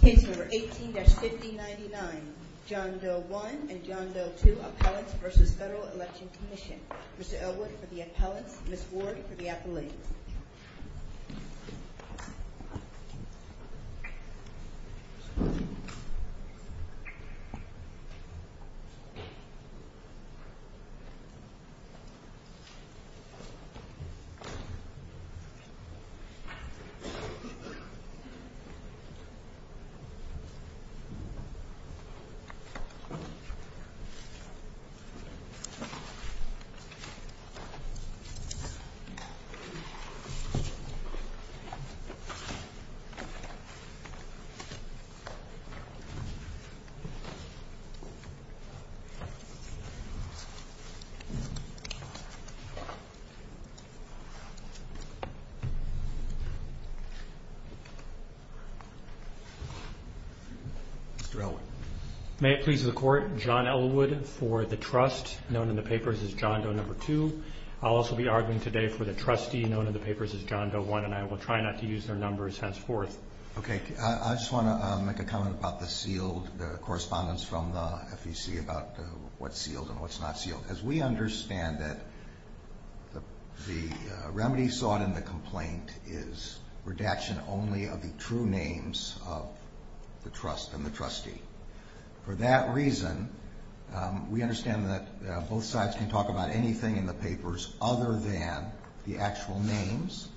Case number 18-5099, John Doe 1 and John Doe 2, Appellants v. Federal Election Commission. Mr. Elwood for the appellants, Ms. Ward for the appellate. Thank you, Mr. Elwood. Mr. Elwood. May it please the Court, John Elwood for the trust, known in the papers as John Doe 2. I'll also be arguing today for the trustee known in the papers as John Doe 1 and I will try not to use their numbers henceforth. Okay, I just want to make a comment about the sealed, the correspondence from the FEC about what's sealed and what's not sealed. As we understand it, the remedy sought in the complaint is redaction only of the true names of the trust and the trustee. For that reason, we understand that both sides can talk about anything in the papers other than the actual names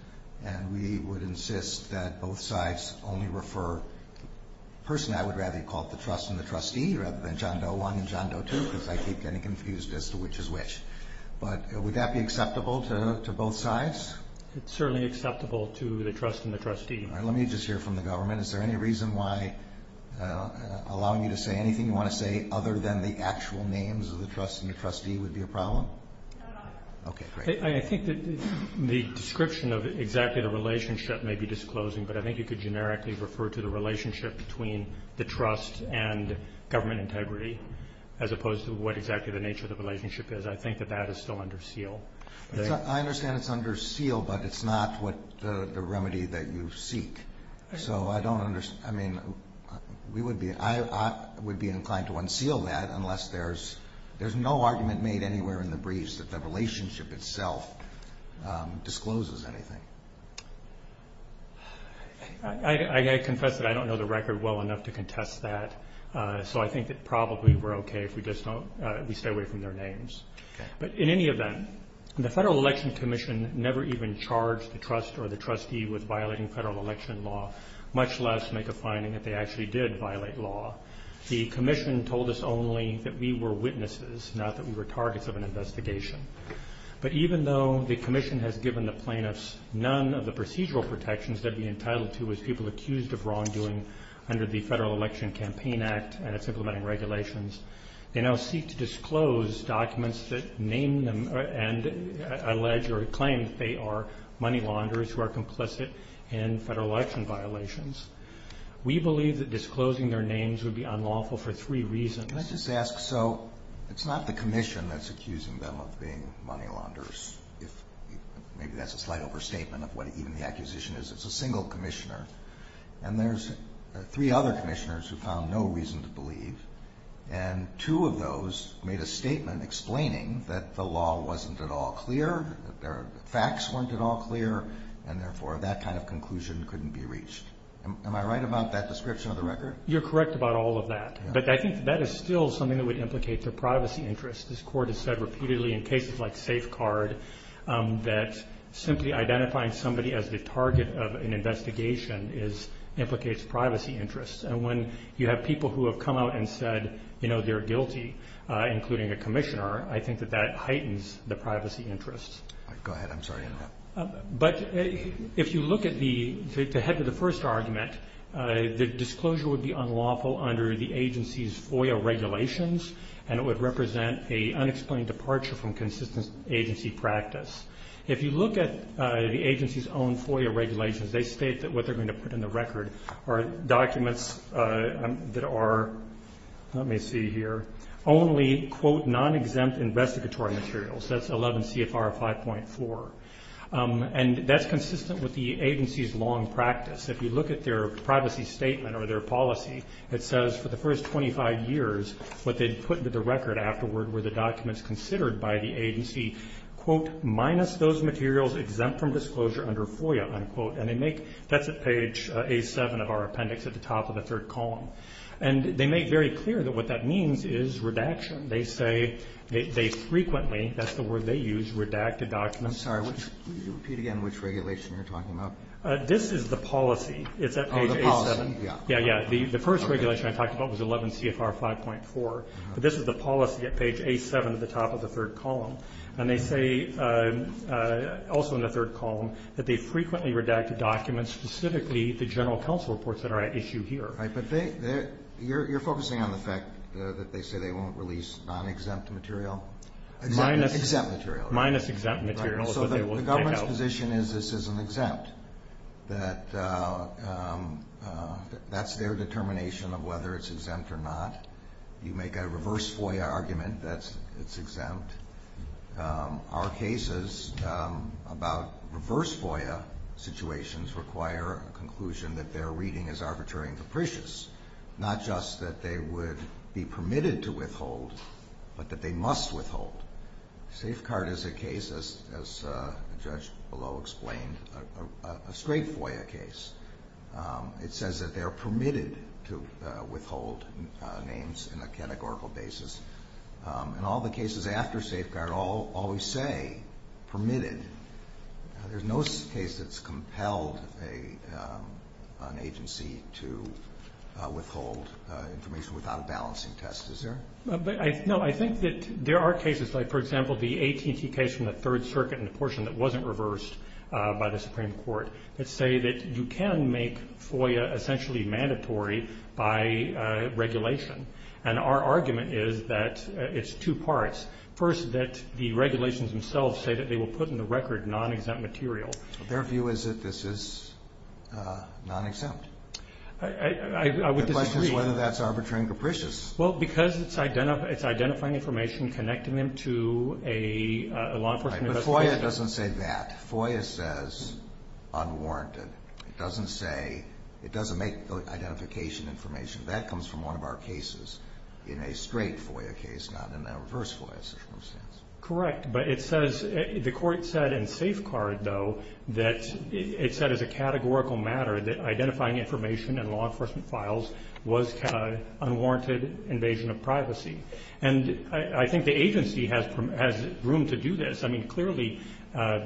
and we would insist that both sides only refer the person I would rather call the trust and the trustee rather than John Doe 1 and John Doe 2 because I keep getting confused as to which is which. But would that be acceptable to both sides? It's certainly acceptable to the trust and the trustee. Let me just hear from the government. Is there any reason why allowing you to say anything you want to say other than the actual names of the trust and the trustee would be a problem? No. Okay, great. I think that the description of exactly the relationship may be disclosing, but I think you could generically refer to the relationship between the trust and government integrity as opposed to what exactly the nature of the relationship is. I think that that is still under seal. I understand it's under seal, but it's not the remedy that you seek. I would be inclined to unseal that unless there's no argument made anywhere in the briefs that the relationship itself discloses anything. I confess that I don't know the record well enough to contest that, so I think that probably we're okay if we stay away from their names. But in any event, the Federal Election Commission never even charged the trust or the trustee with violating federal election law, much less make a finding that they actually did violate law. The commission told us only that we were witnesses, not that we were targets of an investigation. But even though the commission has given the plaintiffs none of the procedural protections they'd be entitled to as people accused of wrongdoing under the Federal Election Campaign Act and its implementing regulations, they now seek to disclose documents that name them and allege or claim that they are money launderers who are complicit in federal election violations. We believe that disclosing their names would be unlawful for three reasons. Can I just ask, so it's not the commission that's accusing them of being money launderers. Maybe that's a slight overstatement of what even the accusation is. It's a single commissioner, and there's three other commissioners who found no reason to believe, and two of those made a statement explaining that the law wasn't at all clear, that their facts weren't at all clear, and therefore that kind of conclusion couldn't be reached. Am I right about that description of the record? You're correct about all of that, but I think that is still something that would implicate their privacy interests. This Court has said repeatedly in cases like Safecard that simply identifying somebody as the target of an investigation implicates privacy interests, and when you have people who have come out and said they're guilty, including a commissioner, I think that that heightens the privacy interests. Go ahead. I'm sorry. But if you look at the head of the first argument, the disclosure would be unlawful under the agency's FOIA regulations, and it would represent an unexplained departure from consistent agency practice. If you look at the agency's own FOIA regulations, they state that what they're going to put in the record are documents that are, let me see here, only, quote, non-exempt investigatory materials. That's 11 CFR 5.4, and that's consistent with the agency's long practice. If you look at their privacy statement or their policy, it says for the first 25 years, what they'd put into the record afterward were the documents considered by the agency, quote, minus those materials exempt from disclosure under FOIA, unquote. And they make, that's at page A7 of our appendix at the top of the third column. And they make very clear that what that means is redaction. They say they frequently, that's the word they use, redacted documents. I'm sorry. Repeat again which regulation you're talking about. This is the policy. It's at page A7. Oh, the policy, yeah. Yeah, yeah. The first regulation I talked about was 11 CFR 5.4, but this is the policy at page A7 at the top of the third column. And they say, also in the third column, that they frequently redacted documents, specifically the general counsel reports that are at issue here. Right, but you're focusing on the fact that they say they won't release non-exempt material? Minus exempt material. Minus exempt material is what they will take out. Their position is this isn't exempt. That's their determination of whether it's exempt or not. You make a reverse FOIA argument that it's exempt. Our cases about reverse FOIA situations require a conclusion that their reading is arbitrary and capricious, not just that they would be permitted to withhold, but that they must withhold. Safeguard is a case, as the judge below explained, a straight FOIA case. It says that they are permitted to withhold names in a categorical basis. And all the cases after Safeguard always say permitted. There's no case that's compelled an agency to withhold information without a balancing test, is there? No, I think that there are cases, like, for example, the AT&T case from the Third Circuit and the portion that wasn't reversed by the Supreme Court, that say that you can make FOIA essentially mandatory by regulation. And our argument is that it's two parts. First, that the regulations themselves say that they will put in the record non-exempt material. Their view is that this is non-exempt. The question is whether that's arbitrary and capricious. Well, because it's identifying information, connecting them to a law enforcement investigation. Right, but FOIA doesn't say that. FOIA says unwarranted. It doesn't say, it doesn't make identification information. That comes from one of our cases in a straight FOIA case, not in a reverse FOIA situation. Correct, but it says, the court said in Safeguard, though, that it said as a categorical matter that identifying information in law enforcement files was an unwarranted invasion of privacy. And I think the agency has room to do this. I mean, clearly,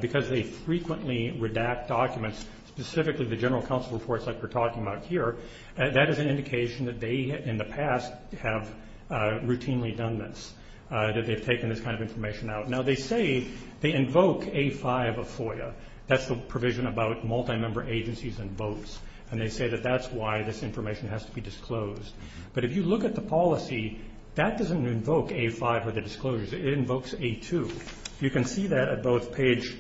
because they frequently redact documents, specifically the general counsel reports like we're talking about here, that is an indication that they, in the past, have routinely done this, that they've taken this kind of information out. Now, they say, they invoke A5 of FOIA. That's the provision about multi-member agencies and votes. And they say that that's why this information has to be disclosed. But if you look at the policy, that doesn't invoke A5 of the disclosures. It invokes A2. You can see that at both page,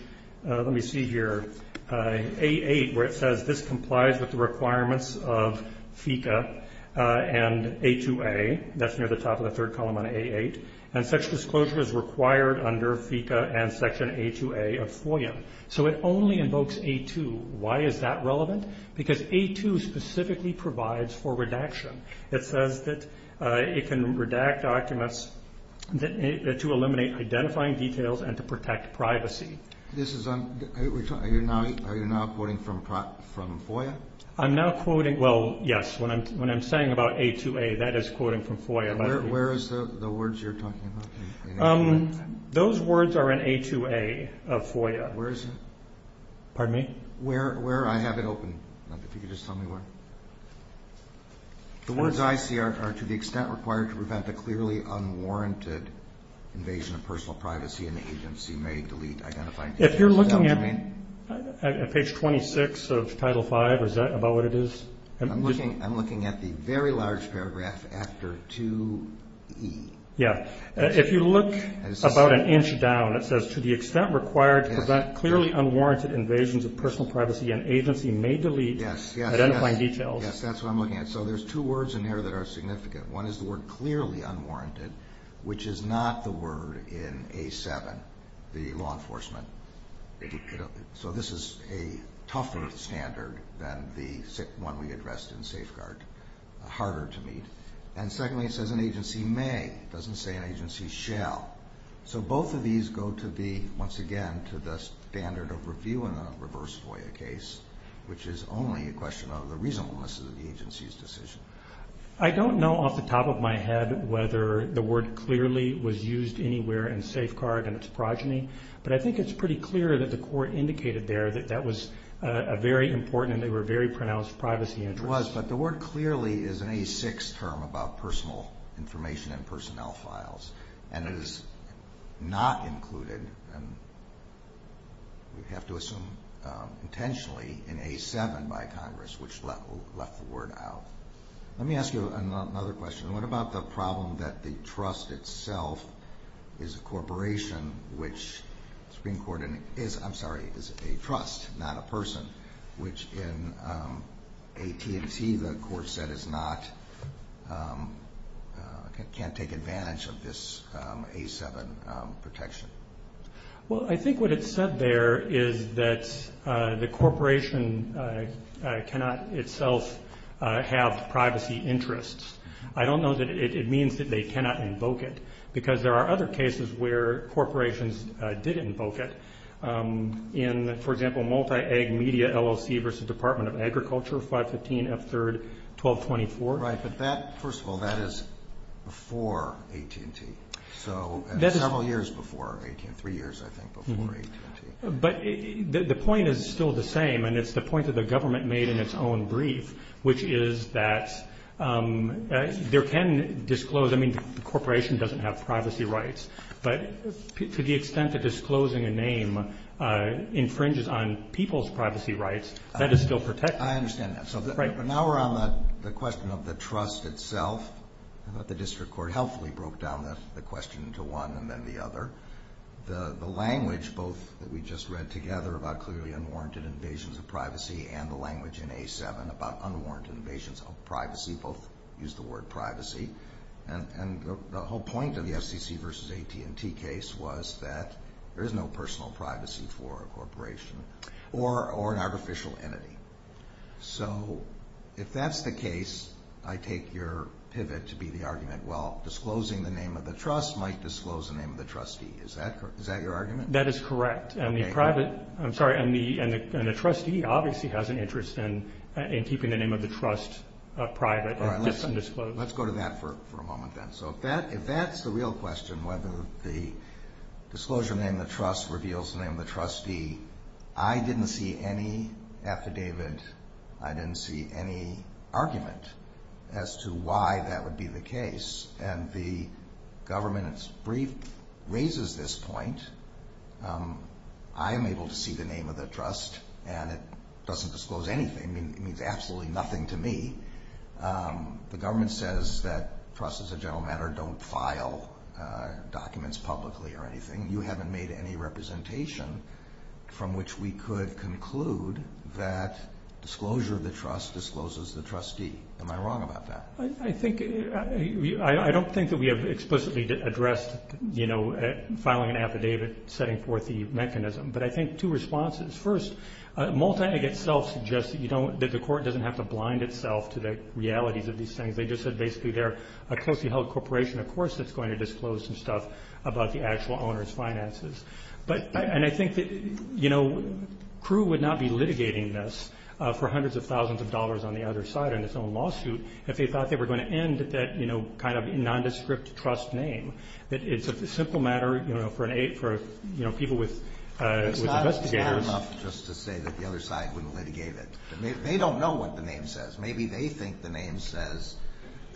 let me see here, A8, where it says this complies with the requirements of FICA and A2A. That's near the top of the third column on A8. And such disclosure is required under FICA and Section A2A of FOIA. So it only invokes A2. Why is that relevant? Because A2 specifically provides for redaction. It says that it can redact documents to eliminate identifying details and to protect privacy. Are you now quoting from FOIA? I'm now quoting, well, yes. When I'm saying about A2A, that is quoting from FOIA. Where is the words you're talking about in A2A? Those words are in A2A of FOIA. Where is it? Pardon me? Where I have it open. If you could just tell me where. The words I see are to the extent required to prevent a clearly unwarranted invasion of personal privacy and the agency may delete identifying details. If you're looking at page 26 of Title V, is that about what it is? I'm looking at the very large paragraph after 2E. Yeah. If you look about an inch down, it says to the extent required to prevent clearly unwarranted invasions of personal privacy and agency may delete identifying details. Yes, that's what I'm looking at. So there's two words in there that are significant. One is the word clearly unwarranted, which is not the word in A7, the law enforcement. So this is a tougher standard than the one we addressed in safeguard, harder to meet. And secondly, it says an agency may. It doesn't say an agency shall. So both of these go to the, once again, to the standard of review in a reverse FOIA case, which is only a question of the reasonableness of the agency's decision. I don't know off the top of my head whether the word clearly was used anywhere in safeguard and its progeny, but I think it's pretty clear that the court indicated there that that was a very important and they were very pronounced privacy interest. Yes, it was, but the word clearly is an A6 term about personal information and personnel files, and it is not included, and we have to assume intentionally, in A7 by Congress, which left the word out. Let me ask you another question. What about the problem that the trust itself is a corporation, which the Supreme Court, I'm sorry, is a trust, not a person, which in AT&T the court said can't take advantage of this A7 protection? Well, I think what it said there is that the corporation cannot itself have privacy interests. I don't know that it means that they cannot invoke it, because there are other cases where corporations did invoke it in, for example, multi-ag media LLC versus Department of Agriculture 515 F3-1224. Right, but that, first of all, that is before AT&T. So several years before AT&T, three years, I think, before AT&T. But the point is still the same, and it's the point that the government made in its own brief, which is that there can disclose, I mean, the corporation doesn't have privacy rights, but to the extent that disclosing a name infringes on people's privacy rights, that is still protected. I understand that. But now we're on the question of the trust itself. I thought the district court helpfully broke down the question into one and then the other. The language, both that we just read together about clearly unwarranted invasions of privacy and the language in A7 about unwarranted invasions of privacy, both use the word privacy. And the whole point of the FCC versus AT&T case was that there is no personal privacy for a corporation or an artificial entity. So if that's the case, I take your pivot to be the argument, well, disclosing the name of the trust might disclose the name of the trustee. Is that your argument? That is correct. I'm sorry, and the trustee obviously has an interest in keeping the name of the trust private and undisclosed. Let's go to that for a moment then. So if that's the real question, whether the disclosure of the name of the trust reveals the name of the trustee, I didn't see any affidavit, I didn't see any argument as to why that would be the case. And the government's brief raises this point. I am able to see the name of the trust, and it doesn't disclose anything. It means absolutely nothing to me. The government says that trusts, as a general matter, don't file documents publicly or anything. You haven't made any representation from which we could conclude that disclosure of the trust discloses the trustee. Am I wrong about that? I don't think that we have explicitly addressed, you know, filing an affidavit, setting forth the mechanism. But I think two responses. First, MULTIAG itself suggests that the court doesn't have to blind itself to the realities of these things. They just said basically they're a closely held corporation, of course, that's going to disclose some stuff about the actual owner's finances. And I think that, you know, for hundreds of thousands of dollars on the other side in its own lawsuit, if they thought they were going to end that, you know, kind of nondescript trust name, that it's a simple matter, you know, for people with investigators. It's not enough just to say that the other side wouldn't litigate it. They don't know what the name says. Maybe they think the name says,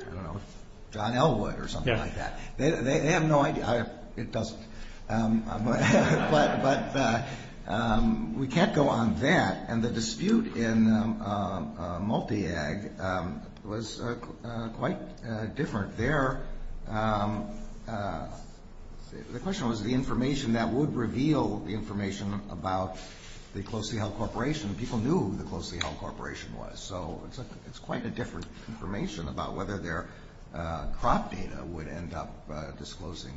I don't know, John Elwood or something like that. They have no idea. It doesn't. But we can't go on that. And the dispute in MULTIAG was quite different there. The question was the information that would reveal the information about the closely held corporation. People knew who the closely held corporation was. So it's quite a different information about whether their crop data would end up disclosing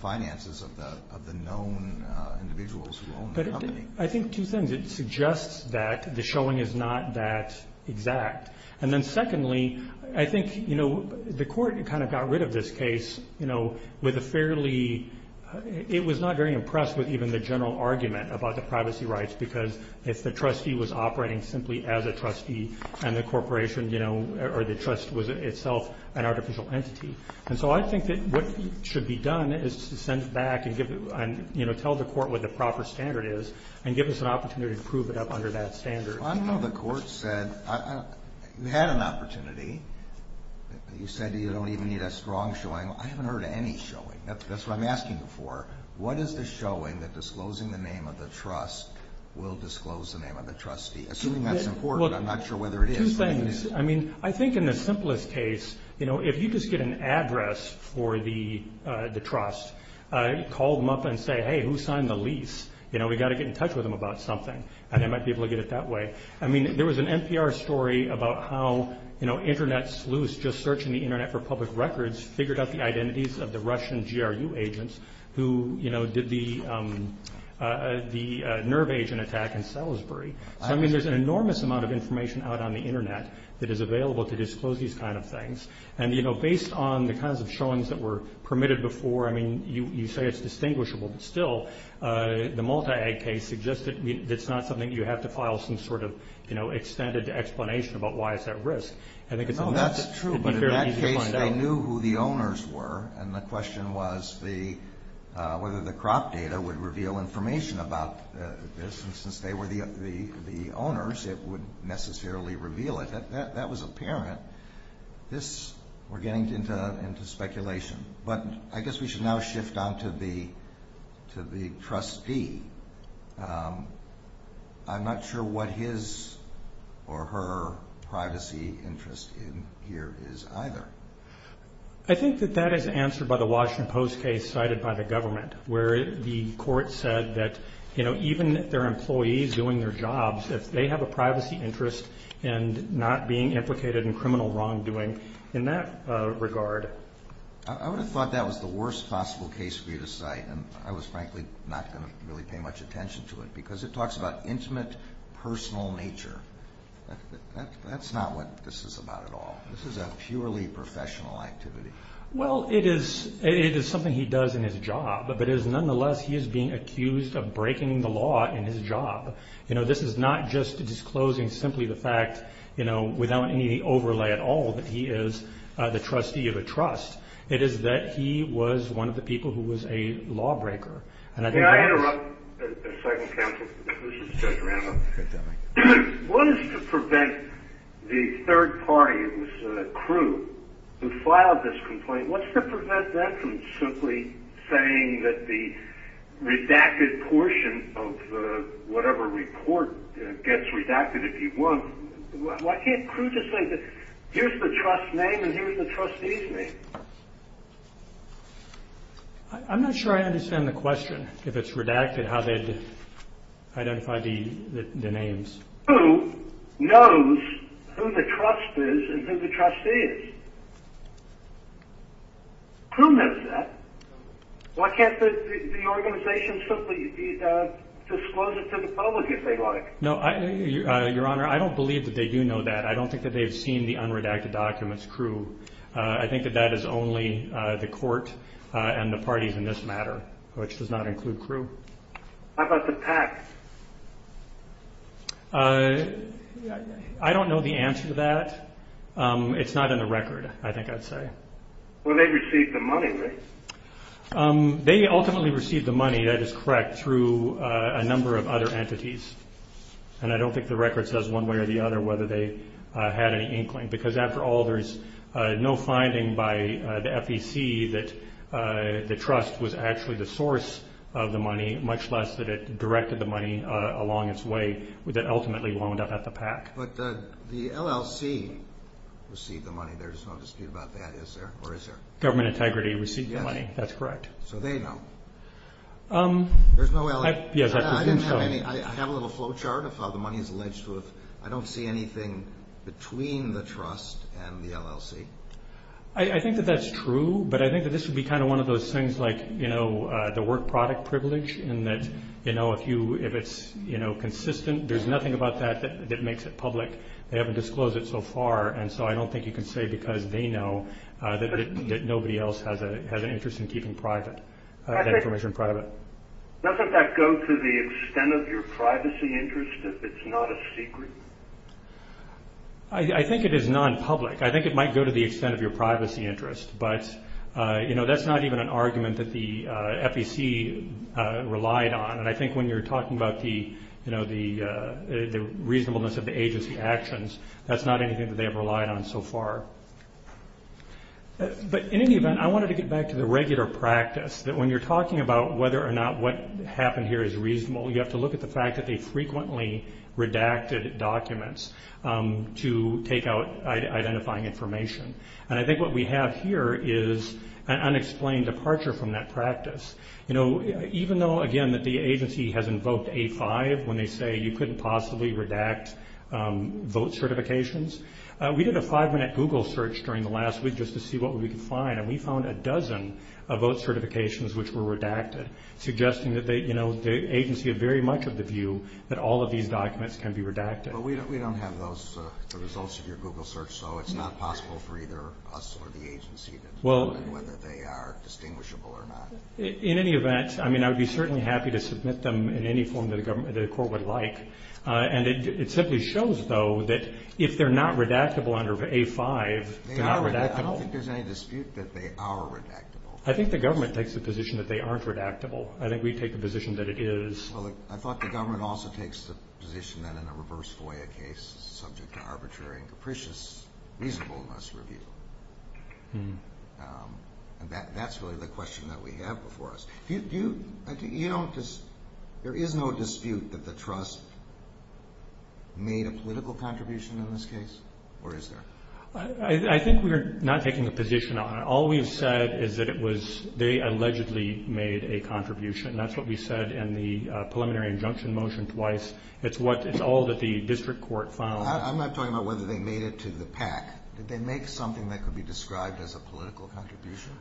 finances of the known individuals who own the company. I think two things. It suggests that the showing is not that exact. And then secondly, I think, you know, the court kind of got rid of this case, you know, with a fairly, it was not very impressed with even the general argument about the privacy rights because if the trustee was operating simply as a trustee and the corporation, you know, or the trust was itself an artificial entity. And so I think that what should be done is to send it back and, you know, tell the court what the proper standard is and give us an opportunity to prove it up under that standard. I don't know if the court said, you had an opportunity. You said you don't even need a strong showing. I haven't heard any showing. That's what I'm asking for. What is the showing that disclosing the name of the trust will disclose the name of the trustee? Assuming that's important, I'm not sure whether it is. Two things. I mean, I think in the simplest case, you know, if you just get an address for the trust, call them up and say, hey, who signed the lease? You know, we've got to get in touch with them about something. And they might be able to get it that way. I mean, there was an NPR story about how, you know, just searching the Internet for public records figured out the identities of the Russian GRU agents who, you know, did the nerve agent attack in Salisbury. I mean, there's an enormous amount of information out on the Internet that is available to disclose these kind of things. And, you know, based on the kinds of showings that were permitted before, I mean, you say it's distinguishable, but still the multi-ag case suggests that it's not something you have to file some sort of, you know, extended explanation about why it's at risk. No, that's true. But in that case, they knew who the owners were. And the question was whether the crop data would reveal information about this. And since they were the owners, it would necessarily reveal it. That was apparent. This, we're getting into speculation. But I guess we should now shift on to the trustee. I'm not sure what his or her privacy interest in here is either. I think that that is answered by the Washington Post case cited by the government, where the court said that, you know, even their employees doing their jobs, if they have a privacy interest and not being implicated in criminal wrongdoing in that regard. I would have thought that was the worst possible case for you to cite. And I was frankly not going to really pay much attention to it, because it talks about intimate personal nature. That's not what this is about at all. This is a purely professional activity. Well, it is something he does in his job. But it is nonetheless he is being accused of breaking the law in his job. You know, this is not just disclosing simply the fact, you know, without any overlay at all that he is the trustee of a trust. It is that he was one of the people who was a lawbreaker. May I interrupt a second counsel? This is Judge Randolph. One is to prevent the third party, it was Crewe, who filed this complaint. What's to prevent that from simply saying that the redacted portion of whatever report gets redacted if you want? Why can't Crewe just say that here's the trust's name and here's the trustee's name? I'm not sure I understand the question, if it's redacted, how they'd identify the names. Crewe knows who the trust is and who the trustee is. Crewe knows that. Why can't the organization simply disclose it to the public if they like? No, Your Honor, I don't believe that they do know that. I don't think that they've seen the unredacted documents, Crewe. I think that that is only the court and the parties in this matter, which does not include Crewe. How about the PAC? I don't know the answer to that. It's not in the record, I think I'd say. Well, they received the money, right? They ultimately received the money, that is correct, through a number of other entities. And I don't think the record says one way or the other whether they had any inkling. Because after all, there's no finding by the FEC that the trust was actually the source of the money, much less that it directed the money along its way that ultimately wound up at the PAC. But the LLC received the money. There's no dispute about that, is there, or is there? Government integrity received the money, that's correct. So they know. There's no LLC. I have a little flowchart of how the money is alleged. I don't see anything between the trust and the LLC. I think that that's true, but I think that this would be kind of one of those things like the work product privilege, in that if it's consistent, there's nothing about that that makes it public. They haven't disclosed it so far, and so I don't think you can say because they know that nobody else has an interest in keeping that information private. Doesn't that go to the extent of your privacy interest if it's not a secret? I think it is nonpublic. I think it might go to the extent of your privacy interest, but that's not even an argument that the FEC relied on. And I think when you're talking about the reasonableness of the agency actions, that's not anything that they have relied on so far. But in any event, I wanted to get back to the regular practice, that when you're talking about whether or not what happened here is reasonable, you have to look at the fact that they frequently redacted documents to take out identifying information. And I think what we have here is an unexplained departure from that practice. Even though, again, that the agency has invoked A5 when they say you couldn't possibly redact vote certifications, we did a five-minute Google search during the last week just to see what we could find, and we found a dozen vote certifications which were redacted, suggesting that the agency had very much of the view that all of these documents can be redacted. But we don't have the results of your Google search, so it's not possible for either us or the agency to determine whether they are distinguishable or not. In any event, I mean, I would be certainly happy to submit them in any form that the court would like. And it simply shows, though, that if they're not redactable under A5, they're not redactable. I don't think there's any dispute that they are redactable. I think the government takes the position that they aren't redactable. I think we take the position that it is. Well, I thought the government also takes the position that in a reverse FOIA case, subject to arbitrary and capricious reasonableness review. And that's really the question that we have before us. There is no dispute that the trust made a political contribution in this case, or is there? I think we're not taking a position on it. And that's what we said in the preliminary injunction motion twice. It's all that the district court found. I'm not talking about whether they made it to the PAC. Did they make something that could be described as a political contribution?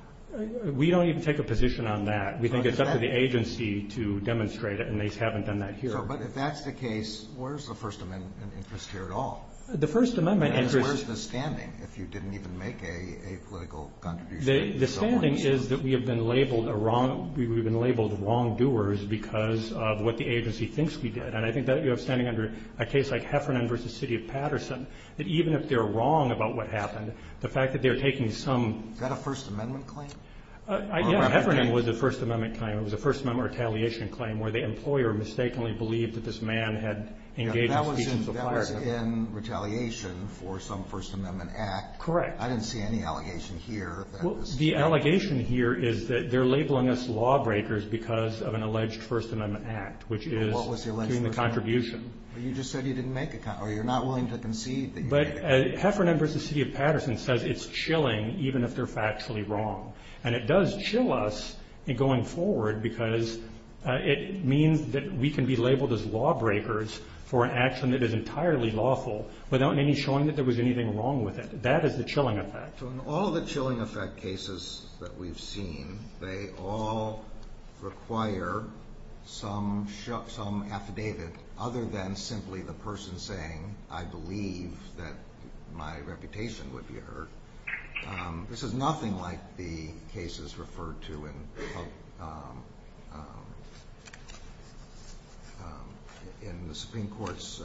We don't even take a position on that. We think it's up to the agency to demonstrate it, and they haven't done that here. But if that's the case, where's the First Amendment interest here at all? The First Amendment interest— I mean, where's the standing if you didn't even make a political contribution? The standing is that we have been labeled wrongdoers because of what the agency thinks we did. And I think that you have standing under a case like Heffernan v. City of Patterson, that even if they're wrong about what happened, the fact that they're taking some— Is that a First Amendment claim? Yeah, Heffernan was a First Amendment claim. It was a First Amendment retaliation claim where the employer mistakenly believed that this man had engaged in speeches of fire. That was in retaliation for some First Amendment act. Correct. I didn't see any allegation here that this— Well, the allegation here is that they're labeling us lawbreakers because of an alleged First Amendment act, which is— Well, what was the alleged First Amendment— —doing the contribution. But you just said you didn't make a—or you're not willing to concede that you made a— But Heffernan v. City of Patterson says it's chilling even if they're factually wrong. And it does chill us going forward because it means that we can be labeled as lawbreakers for an action that is entirely lawful without any showing that there was anything wrong with it. That is the chilling effect. So in all the chilling effect cases that we've seen, they all require some affidavit other than simply the person saying, I believe that my reputation would be hurt. This is nothing like the cases referred to in the Supreme Court's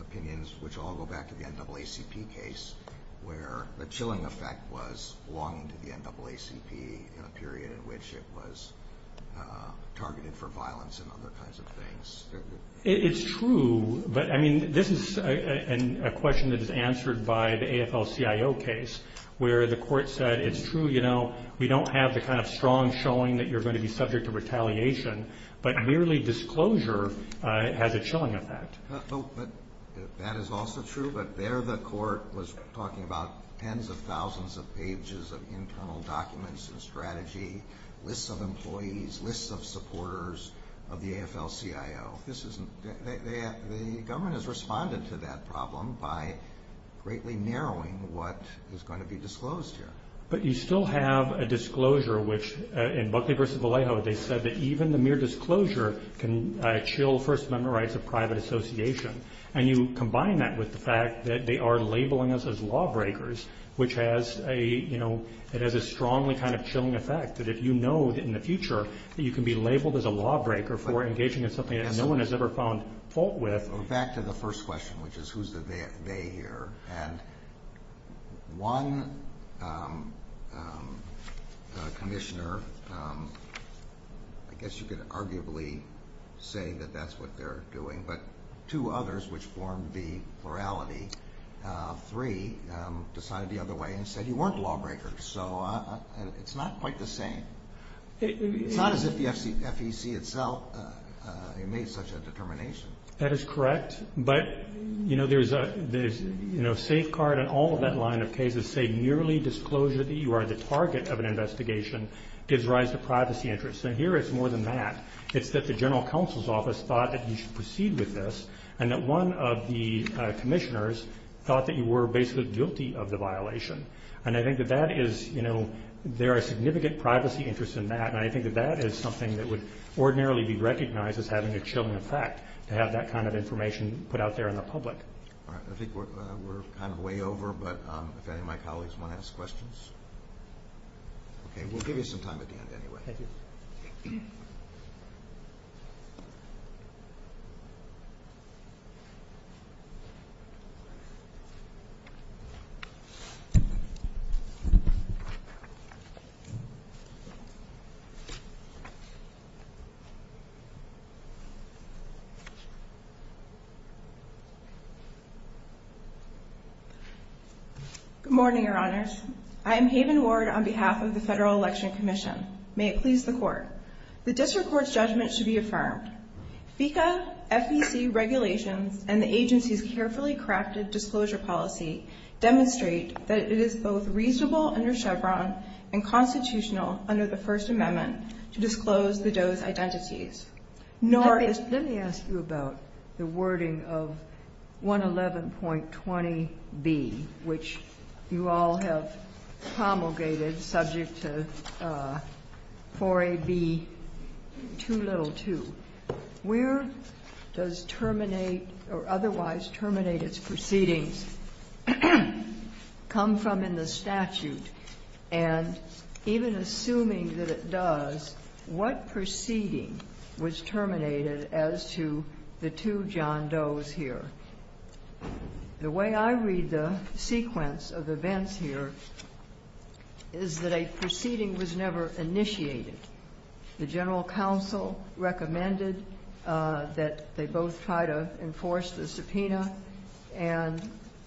opinions, which all go back to the NAACP case where the chilling effect was long into the NAACP, in a period in which it was targeted for violence and other kinds of things. It's true, but, I mean, this is a question that is answered by the AFL-CIO case where the court said, it's true, you know, we don't have the kind of strong showing that you're going to be subject to retaliation, but merely disclosure has a chilling effect. Oh, but that is also true, but there the court was talking about tens of thousands of pages of internal documents and strategy, lists of employees, lists of supporters of the AFL-CIO. The government has responded to that problem by greatly narrowing what is going to be disclosed here. But you still have a disclosure which, in Buckley v. Vallejo, they said that even the mere disclosure can chill First Amendment rights of private association. And you combine that with the fact that they are labeling us as lawbreakers, which has a, you know, it has a strongly kind of chilling effect, that if you know in the future that you can be labeled as a lawbreaker for engaging in something that no one has ever found fault with. Back to the first question, which is who's the they here. And one commissioner, I guess you could arguably say that that's what they're doing, but two others, which form the plurality, three decided the other way and said you weren't lawbreakers. So it's not quite the same. It's not as if the FEC itself made such a determination. That is correct. But, you know, there's, you know, safeguard and all of that line of cases say merely disclosure that you are the target of an investigation gives rise to privacy interests. And here it's more than that. It's that the general counsel's office thought that you should proceed with this and that one of the commissioners thought that you were basically guilty of the violation. And I think that that is, you know, there are significant privacy interests in that. And I think that that is something that would ordinarily be recognized as having a chilling effect, to have that kind of information put out there in the public. All right. I think we're kind of way over, but if any of my colleagues want to ask questions. Okay. We'll give you some time at the end anyway. Thank you. Good morning, Your Honors. I am Haven Ward on behalf of the Federal Election Commission. May it please the Court. The district court's judgment should be affirmed. FECA, FEC regulations, and the agency's carefully crafted disclosure policy demonstrate that it is both reasonable under Chevron and constitutional under the First Amendment to disclose the Doe's identities. Let me ask you about the wording of 111.20b, which you all have promulgated subject to 4A.B. 2.2. Where does terminate or otherwise terminate its proceedings come from in the statute? And even assuming that it does, what proceeding was terminated as to the two John Doe's here? The way I read the sequence of events here is that a proceeding was never initiated. The general counsel recommended that they both try to enforce the subpoena and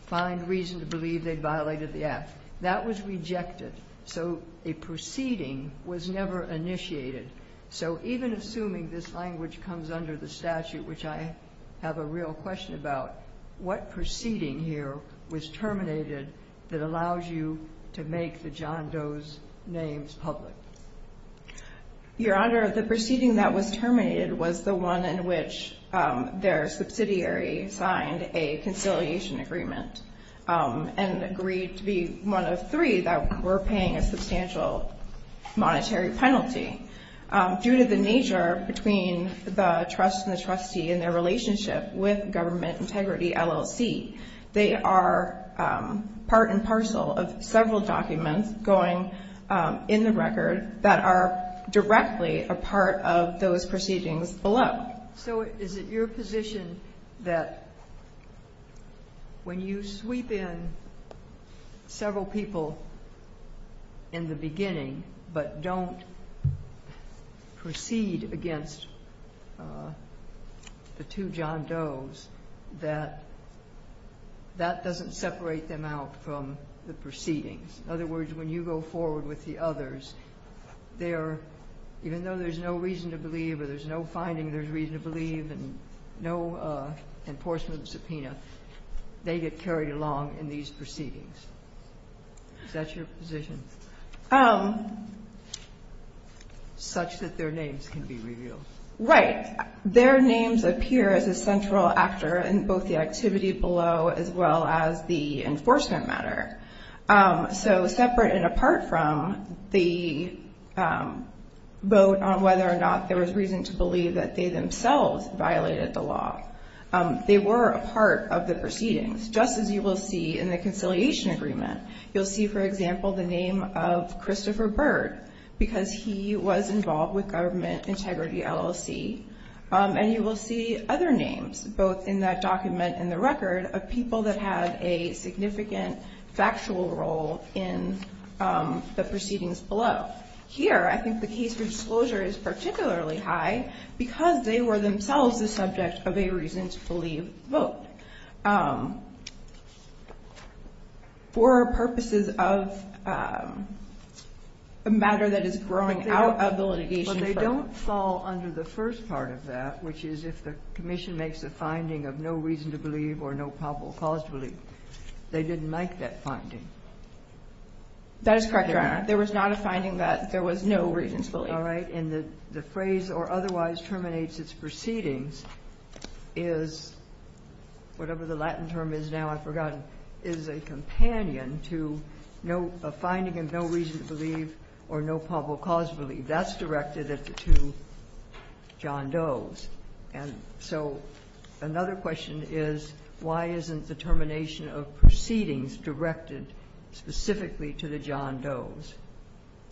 find reason to believe they violated the act. That was rejected. So a proceeding was never initiated. So even assuming this language comes under the statute, which I have a real question about, what proceeding here was terminated that allows you to make the John Doe's names public? Your Honor, the proceeding that was terminated was the one in which their subsidiary signed a conciliation agreement and agreed to be one of three that were paying a substantial monetary penalty. Due to the nature between the trust and the trustee and their relationship with Government Integrity LLC, they are part and parcel of several documents going in the record that are directly a part of those proceedings below. So is it your position that when you sweep in several people in the beginning but don't proceed against the two John Doe's, that that doesn't separate them out from the proceedings? In other words, when you go forward with the others, even though there's no reason to believe or there's no finding there's reason to believe and no enforcement of the subpoena, they get carried along in these proceedings? Is that your position? Such that their names can be revealed. Right. Their names appear as a central actor in both the activity below as well as the enforcement matter. So separate and apart from the vote on whether or not there was reason to believe that they themselves violated the law, they were a part of the proceedings, just as you will see in the conciliation agreement. You'll see, for example, the name of Christopher Byrd because he was involved with Government Integrity LLC. And you will see other names, both in that document and the record, of people that had a significant factual role in the proceedings below. Here, I think the case for disclosure is particularly high because they were themselves the subject of a reason to believe vote. For purposes of a matter that is growing out of the litigation. But they don't fall under the first part of that, which is if the commission makes a finding of no reason to believe or no probable cause to believe, they didn't make that finding. That is correct, Your Honor. There was not a finding that there was no reason to believe. All right. And the phrase or otherwise terminates its proceedings is, whatever the Latin term is now, I've forgotten, is a companion to a finding of no reason to believe or no probable cause to believe. That's directed at the two John Does. And so another question is, why isn't the termination of proceedings directed specifically to the John Does?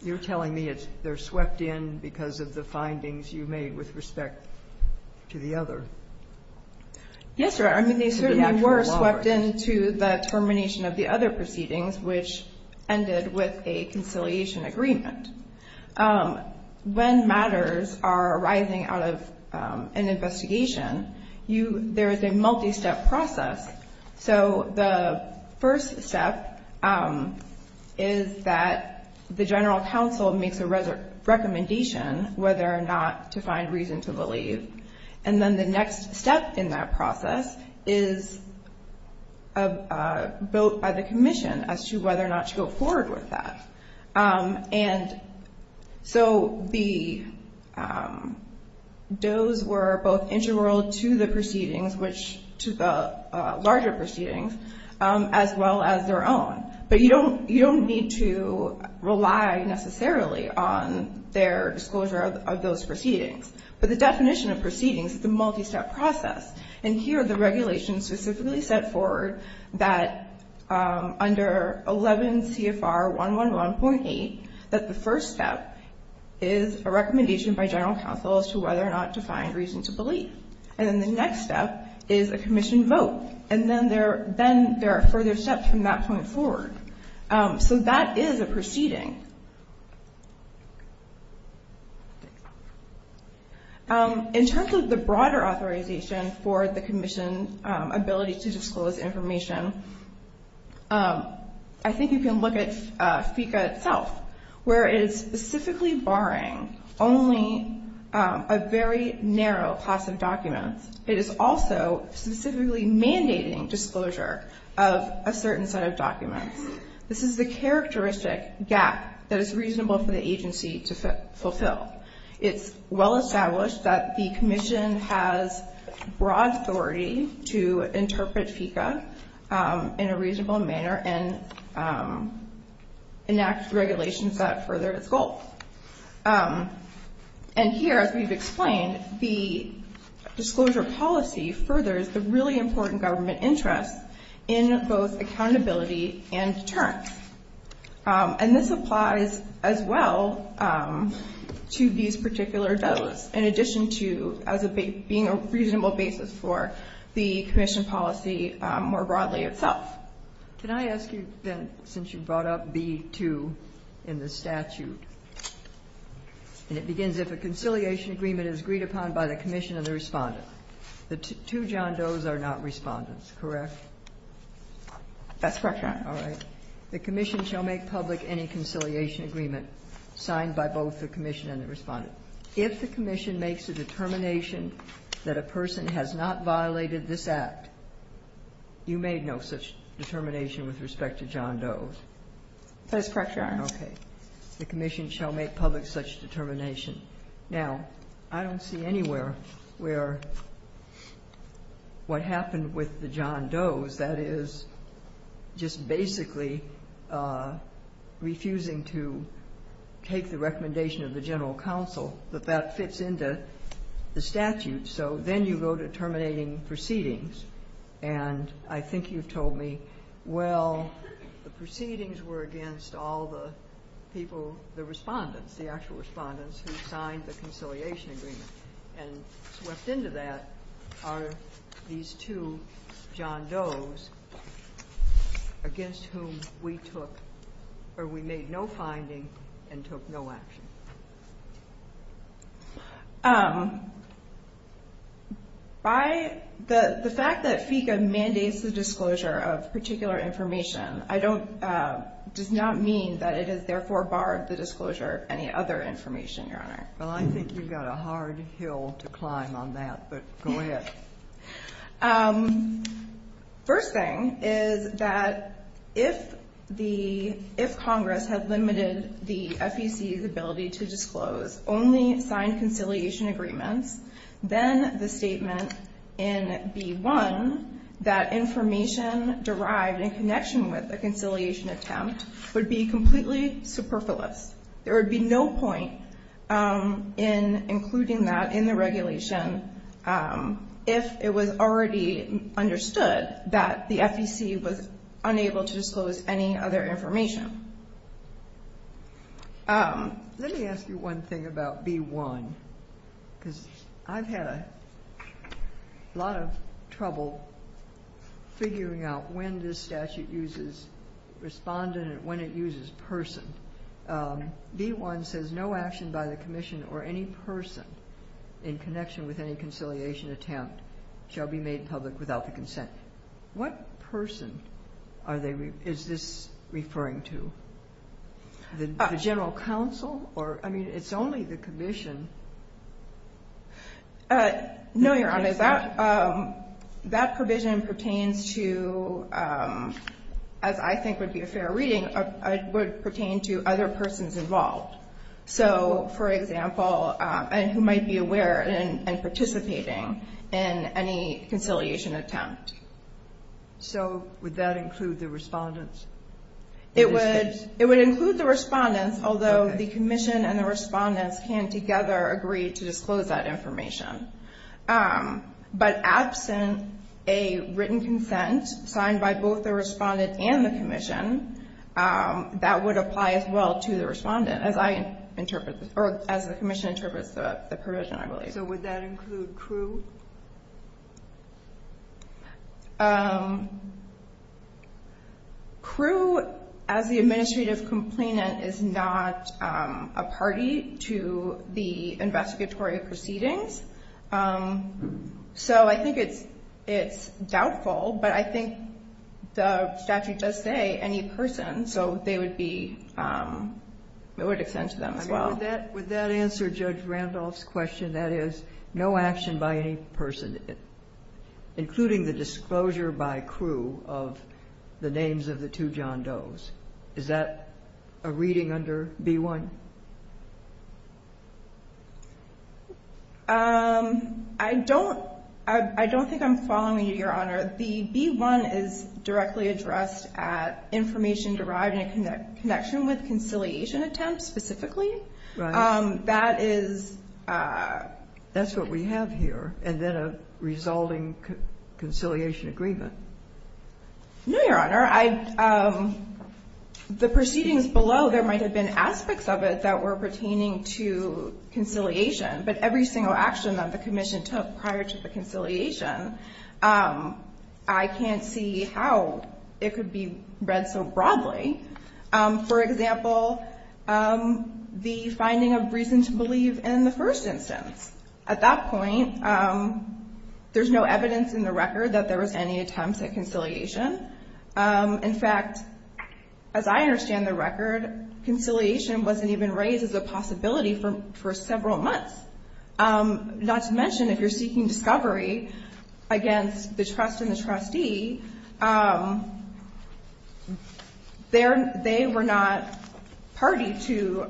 You're telling me they're swept in because of the findings you made with respect to the other. Yes, Your Honor. I mean, they certainly were swept into the termination of the other proceedings, which ended with a conciliation agreement. When matters are arising out of an investigation, there is a multi-step process. So the first step is that the general counsel makes a recommendation whether or not to find reason to believe. And then the next step in that process is a vote by the commission as to whether or not to go forward with that. And so the Does were both intramural to the proceedings, which to the larger proceedings, as well as their own. But you don't need to rely necessarily on their disclosure of those proceedings. But the definition of proceedings is a multi-step process. And here the regulation specifically set forward that under 11 CFR 111.8, that the first step is a recommendation by general counsel as to whether or not to find reason to believe. And then the next step is a commission vote. And then there are further steps from that point forward. So that is a proceeding. In terms of the broader authorization for the commission ability to disclose information, I think you can look at FICA itself, where it is specifically barring only a very narrow class of documents. It is also specifically mandating disclosure of a certain set of documents. This is the characteristic gap that is reasonable for the agency to fulfill. It's well established that the commission has broad authority to interpret FICA in a reasonable manner and enact regulations that further its goal. And here, as we've explained, the disclosure policy furthers the really important government interest in both accountability and deterrence. And this applies as well to these particular does, in addition to as being a reasonable basis for the commission policy more broadly itself. Can I ask you then, since you brought up B-2 in the statute, and it begins, if a conciliation agreement is agreed upon by the commission and the Respondent. The two John Does are not Respondents, correct? That's correct, Your Honor. All right. The commission shall make public any conciliation agreement signed by both the commission and the Respondent. If the commission makes a determination that a person has not violated this act, you made no such determination with respect to John Does. That is correct, Your Honor. Okay. The commission shall make public such determination. Now, I don't see anywhere where what happened with the John Does, that is just basically refusing to take the recommendation of the general counsel, that that fits into the statute. So then you go to terminating proceedings. And I think you've told me, well, the proceedings were against all the people, the Respondents, the actual Respondents who signed the conciliation agreement. And swept into that are these two John Does against whom we took, or we made no finding and took no action. By the fact that FECA mandates the disclosure of particular information, does not mean that it has therefore barred the disclosure of any other information, Your Honor. Well, I think you've got a hard hill to climb on that. But go ahead. First thing is that if Congress had limited the FEC's ability to disclose only signed conciliation agreements, then the statement in B-1, that information derived in connection with the conciliation attempt, would be completely superfluous. There would be no point in including that in the regulation if it was already understood that the FEC was unable to disclose any other information. Let me ask you one thing about B-1. Because I've had a lot of trouble figuring out when this statute uses Respondent and when it uses Person. B-1 says, No action by the Commission or any person in connection with any conciliation attempt shall be made public without the consent. What person is this referring to? The General Counsel? I mean, it's only the Commission. No, Your Honor. That provision pertains to, as I think would be a fair reading, would pertain to other persons involved. So, for example, who might be aware and participating in any conciliation attempt. So would that include the Respondents? It would include the Respondents, although the Commission and the Respondents can together agree to disclose that information. But absent a written consent signed by both the Respondent and the Commission, that would apply as well to the Respondent, as I interpret this, or as the Commission interprets the provision, I believe. So would that include Crew? Crew, as the administrative complainant, is not a party to the investigatory proceedings. So I think it's doubtful. But I think the statute does say any person, so they would be, it would extend to them as well. Would that answer Judge Randolph's question? That is, no action by any person, including the disclosure by Crew of the names of the two John Does. Is that a reading under B-1? I don't, I don't think I'm following you, Your Honor. The B-1 is directly addressed at information derived in connection with conciliation attempts specifically. Right. That is. That's what we have here. And then a resulting conciliation agreement. No, Your Honor. The proceedings below, there might have been aspects of it that were pertaining to conciliation. But every single action that the Commission took prior to the conciliation, I can't see how it could be read so broadly. For example, the finding of reason to believe in the first instance. At that point, there's no evidence in the record that there was any attempts at conciliation. In fact, as I understand the record, conciliation wasn't even raised as a possibility for several months. Not to mention, if you're seeking discovery against the trust and the trustee, they were not party to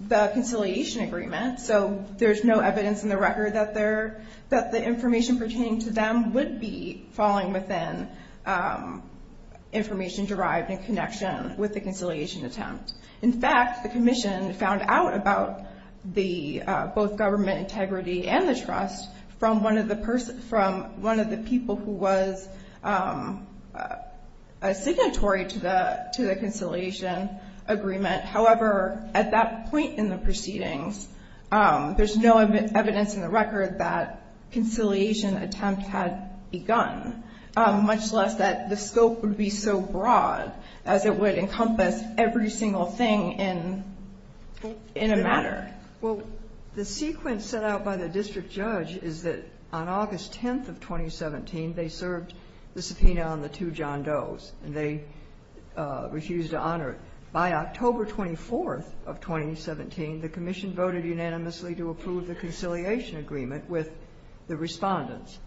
the conciliation agreement. So there's no evidence in the record that the information pertaining to them would be falling within information derived in connection with the conciliation attempt. In fact, the Commission found out about the, both government integrity and the trust, from one of the people who was a signatory to the conciliation agreement. However, at that point in the proceedings, there's no evidence in the record that conciliation attempt had begun. Much less that the scope would be so broad as it would encompass every single thing in a matter. Well, the sequence set out by the district judge is that on August 10th of 2017, they served the subpoena on the two John Does, and they refused to honor it. By October 24th of 2017, the Commission voted unanimously to approve the conciliation agreement with the Respondents.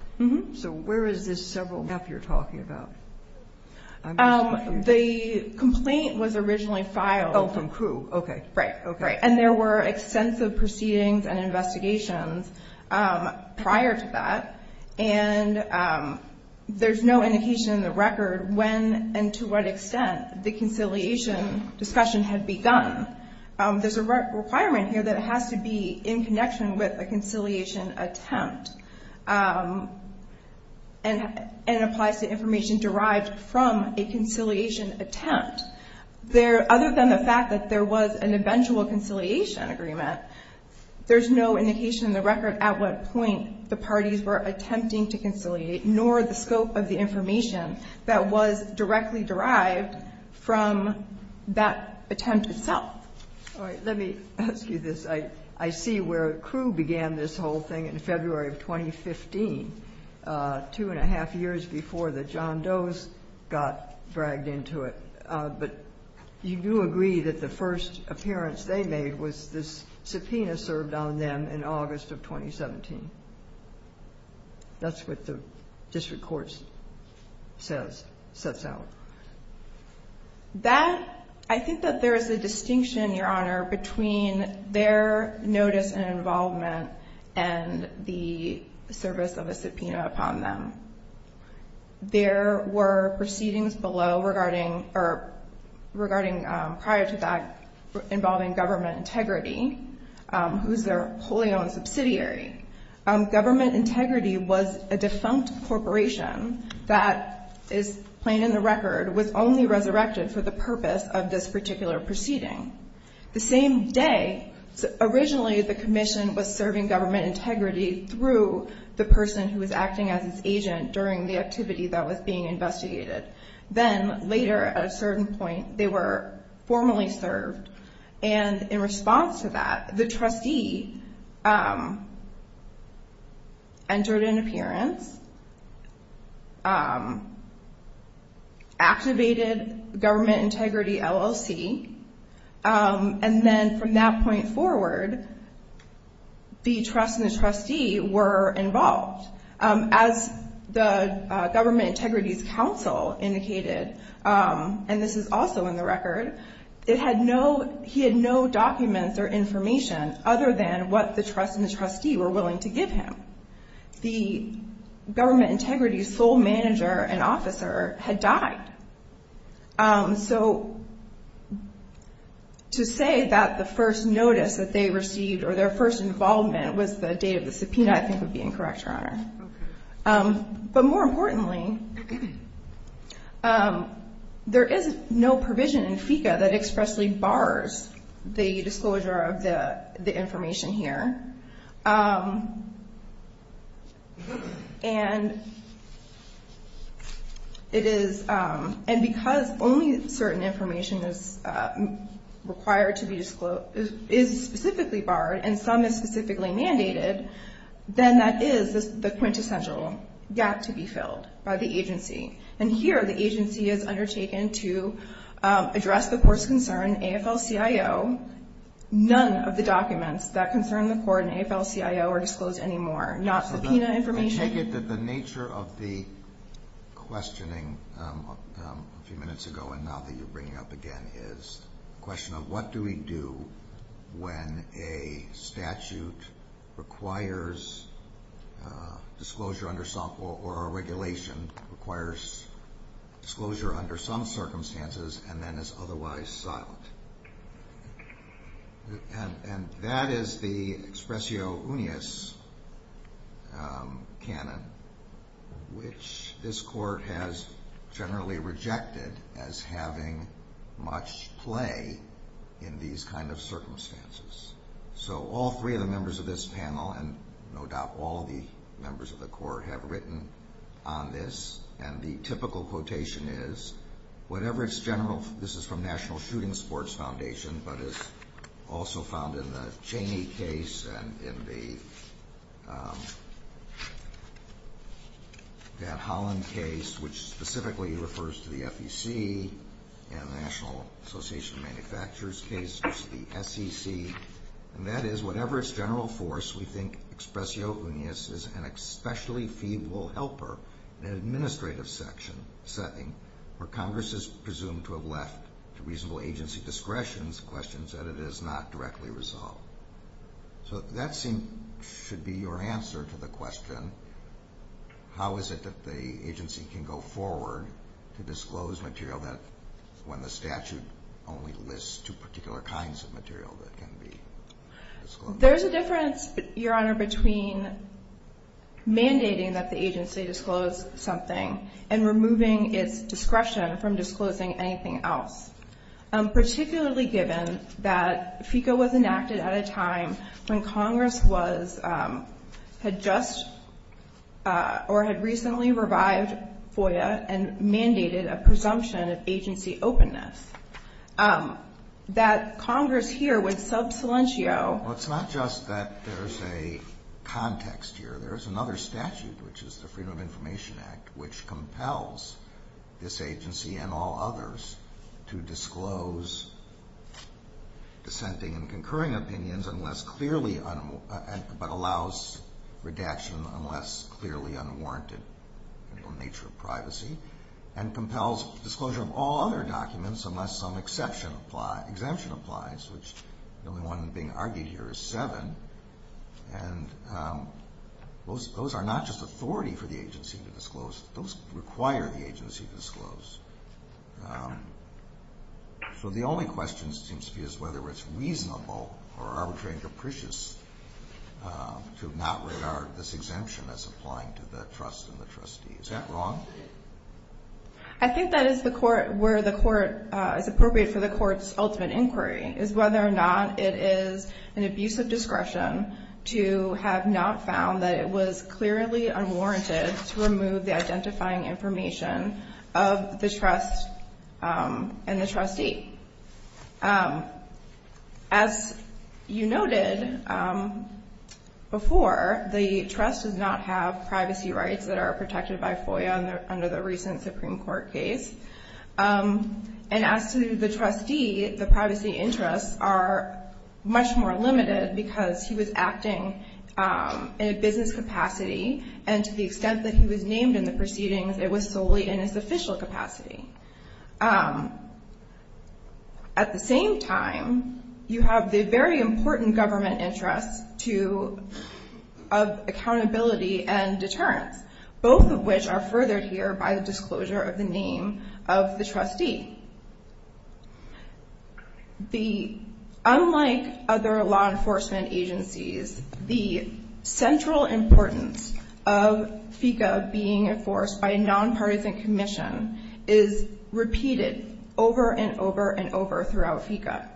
So where is this several months you're talking about? The complaint was originally filed. Oh, from crew. Okay. Right. Okay. And there were extensive proceedings and investigations prior to that, and there's no indication in the record when and to what extent the conciliation discussion had begun. There's a requirement here that it has to be in connection with a conciliation attempt, and it applies to information derived from a conciliation attempt. Other than the fact that there was an eventual conciliation agreement, there's no indication in the record at what point the parties were attempting to conciliate, nor the scope of the information that was directly derived from that attempt itself. All right. Let me ask you this. I see where crew began this whole thing in February of 2015, two and a half years before the John Does got dragged into it. But you do agree that the first appearance they made was this subpoena served on them in August of 2017. That's what the district court says, sets out. That, I think that there is a distinction, Your Honor, between their notice and involvement and the service of a subpoena upon them. There were proceedings below regarding prior to that involving government integrity, who's their wholly owned subsidiary. Government integrity was a defunct corporation that is plain in the record, was only resurrected for the purpose of this particular proceeding. The same day, originally the commission was serving government integrity through the person who was acting as its agent during the activity that was being investigated. Then later, at a certain point, they were formally served. And in response to that, the trustee entered an appearance, activated government integrity LLC. And then from that point forward, the trust and the trustee were involved. As the Government Integrities Council indicated, and this is also in the record, it had no, he had no documents or information other than what the trust and the trustee were willing to give him. The government integrity sole manager and officer had died. So to say that the first notice that they received or their first involvement was the date of the subpoena, I think would be incorrect, Your Honor. But more importantly, there is no provision in FECA that expressly bars the disclosure of the information here. And it is, and because only certain information is required to be disclosed, is specifically barred and some is specifically mandated, then that is the quintessential gap to be filled by the agency. And here the agency is undertaken to address the court's concern, AFL-CIO, none of the documents that concern the court in AFL-CIO are disclosed anymore, not subpoena information. I take it that the nature of the questioning a few minutes ago and now that you're bringing up again is the question of what do we do when a statute requires disclosure under some, or a regulation requires disclosure under some circumstances and then is otherwise silent. And that is the expressio unius canon, which this court has generally rejected as having much play in these kind of circumstances. So all three of the members of this panel and no doubt all the members of the court have written on this and the typical quotation is, whatever its general, this is from National Shooting Sports Foundation, but is also found in the Chaney case and in the Van Hollen case, which specifically refers to the FEC and the National Association of Manufacturers case, which is the SEC. And that is, whatever its general force, we think expressio unius is an especially feeble helper in an administrative setting where Congress is presumed to have left to reasonable agency discretion questions that it has not directly resolved. So that should be your answer to the question, how is it that the agency can go forward to disclose material when the statute only lists two particular kinds of material that can be disclosed? There's a difference, Your Honor, between mandating that the agency disclose something and removing its discretion from disclosing anything else. Particularly given that FECA was enacted at a time when Congress was, had just, or had recently revived FOIA and mandated a presumption of agency openness, that Congress here would sub silentio. Well, it's not just that there's a context here. There's another statute, which is the Freedom of Information Act, which compels this agency and all others to disclose dissenting and concurring opinions unless clearly, but allows redaction unless clearly unwarranted in the nature of privacy, and compels disclosure of all other documents unless some exception applies, which the only one being argued here is seven, and those are not just authority for the agency to disclose, those require the agency to disclose. So the only question seems to be whether it's reasonable or arbitrary and capricious to not regard this exemption as applying to the trust and the trustee. Is that wrong? I think that is the court, where the court, is appropriate for the court's ultimate inquiry, is whether or not it is an abuse of discretion to have not found that it was clearly unwarranted to remove the identifying information of the trust and the trustee. As you noted before, the trust does not have privacy rights that are protected by FOIA under the recent Supreme Court case, and as to the trustee, the privacy interests are much more limited because he was acting in a business capacity, and to the extent that he was named in the proceedings, it was solely in his official capacity. At the same time, you have the very important government interests of accountability and deterrence, both of which are furthered here by the disclosure of the name of the trustee. Unlike other law enforcement agencies, the central importance of FECA being enforced by a nonpartisan commission is repeated over and over and over throughout FECA.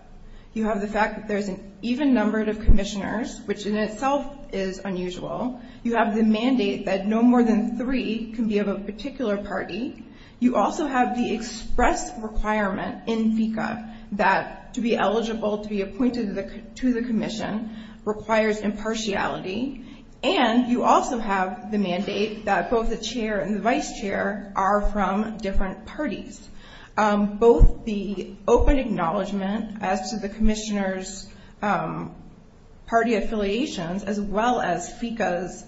You have the fact that there is an even number of commissioners, which in itself is unusual. You have the mandate that no more than three can be of a particular party. You also have the express requirement in FECA that to be eligible to be appointed to the commission requires impartiality, and you also have the mandate that both the chair and the vice chair are from different parties. Both the open acknowledgment as to the commissioner's party affiliations, as well as FECA's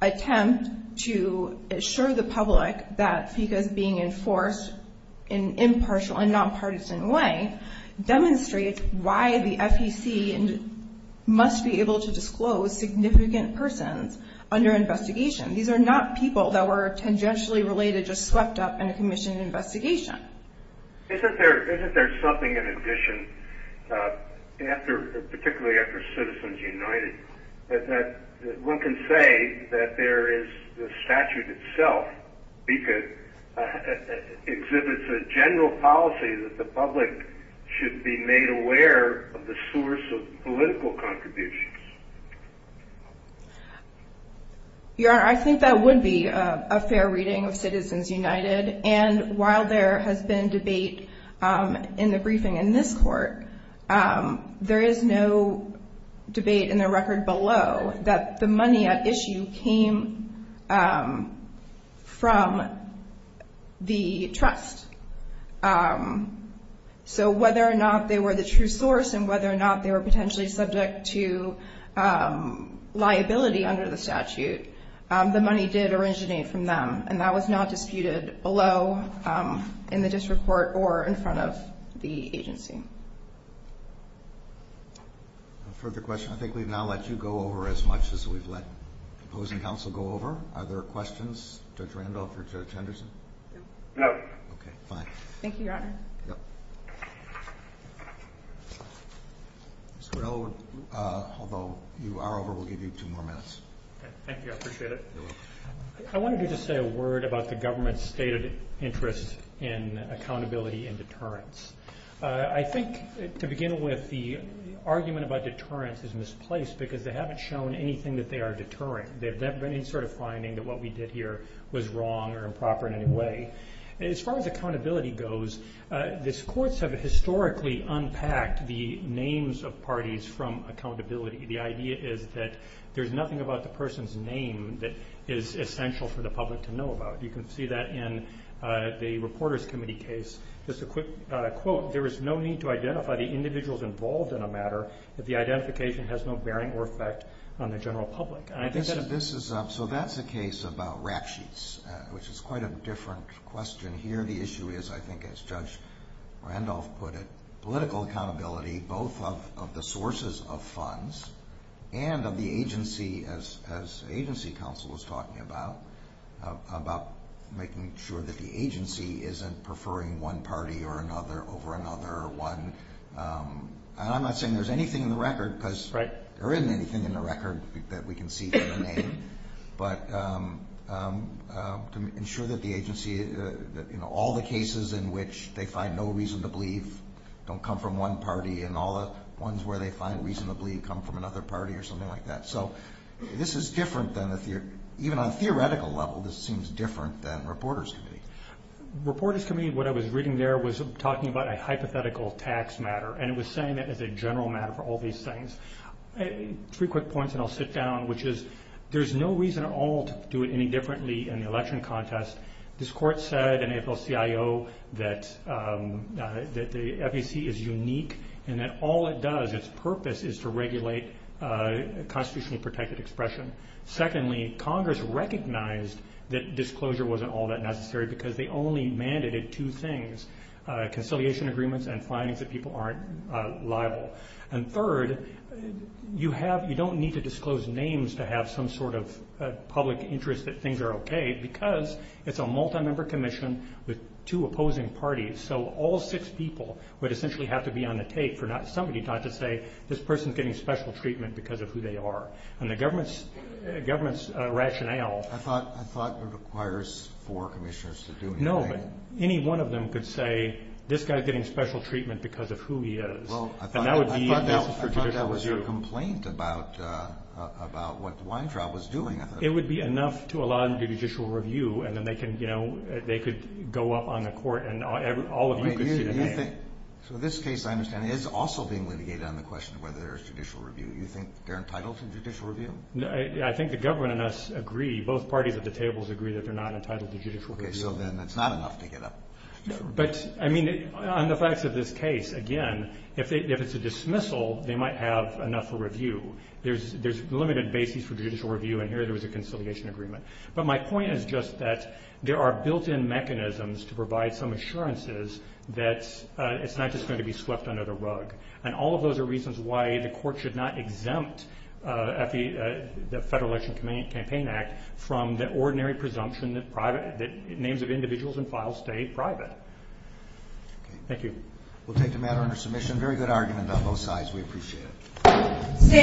attempt to assure the public that FECA is being enforced in an impartial and nonpartisan way demonstrates why the FEC must be able to disclose significant persons under investigation. These are not people that were tangentially related, just swept up in a commission investigation. Isn't there something in addition, particularly after Citizens United, that one can say that there is the statute itself exhibits a general policy that the public should be made aware of the source of political contributions? Your Honor, I think that would be a fair reading of Citizens United, and while there has been debate in the briefing in this court, there is no debate in the record below that the money at issue came from the trust. So whether or not they were the true source and whether or not they were potentially subject to liability under the statute, the money did originate from them, and that was not disputed below in the district court or in front of the agency. No further questions? I think we've now let you go over as much as we've let opposing counsel go over. Are there questions, Judge Randolph or Judge Henderson? No. Okay, fine. Thank you, Your Honor. Although you are over, we'll give you two more minutes. Thank you, I appreciate it. You're welcome. I wanted to just say a word about the government's stated interest in accountability and deterrence. I think to begin with, the argument about deterrence is misplaced because they haven't shown anything that they are deterring. They've never been any sort of finding that what we did here was wrong or improper in any way. As far as accountability goes, these courts have historically unpacked the names of parties from accountability. The idea is that there's nothing about the person's name that is essential for the public to know about. You can see that in the Reporters Committee case. Just a quick quote, there is no need to identify the individuals involved in a matter if the identification has no bearing or effect on the general public. So that's a case about rap sheets, which is quite a different question here. The issue is, I think as Judge Randolph put it, political accountability both of the sources of funds and of the agency, as agency counsel was talking about, about making sure that the agency isn't preferring one party over another. I'm not saying there's anything in the record, because there isn't anything in the record that we can see for the name, but to ensure that all the cases in which they find no reason to believe don't come from one party and all the ones where they find reason to believe come from another party or something like that. So this is different than, even on a theoretical level, this seems different than Reporters Committee. Reporters Committee, what I was reading there, was talking about a hypothetical tax matter, and it was saying that it's a general matter for all these things. Three quick points and I'll sit down, which is, there's no reason at all to do it any differently in the election contest. This court said in AFL-CIO that the FEC is unique and that all it does, its purpose, is to regulate constitutionally protected expression. Secondly, Congress recognized that disclosure wasn't all that necessary because they only mandated two things, conciliation agreements and findings that people aren't liable. And third, you don't need to disclose names to have some sort of public interest that things are okay, because it's a multi-member commission with two opposing parties. So all six people would essentially have to be on the tape for somebody not to say, this person's getting special treatment because of who they are. And the government's rationale... I thought it requires four commissioners to do anything. No, but any one of them could say, this guy's getting special treatment because of who he is. Well, I thought that was your complaint about what Weintraub was doing. It would be enough to allow them to do judicial review, and then they could go up on the court and all of you could see the name. So this case, I understand, is also being litigated on the question of whether there's judicial review. Do you think they're entitled to judicial review? I think the government and us agree, both parties at the tables agree that they're not entitled to judicial review. Okay, so then it's not enough to get up to judicial review. But, I mean, on the facts of this case, again, if it's a dismissal, they might have enough for review. There's limited basis for judicial review, and here there was a conciliation agreement. But my point is just that there are built-in mechanisms to provide some assurances that it's not just going to be swept under the rug. And all of those are reasons why the court should not exempt the Federal Election Campaign Act from the ordinary presumption that names of individuals and files stay private. Thank you. We'll take the matter under submission. Very good argument on both sides. We appreciate it.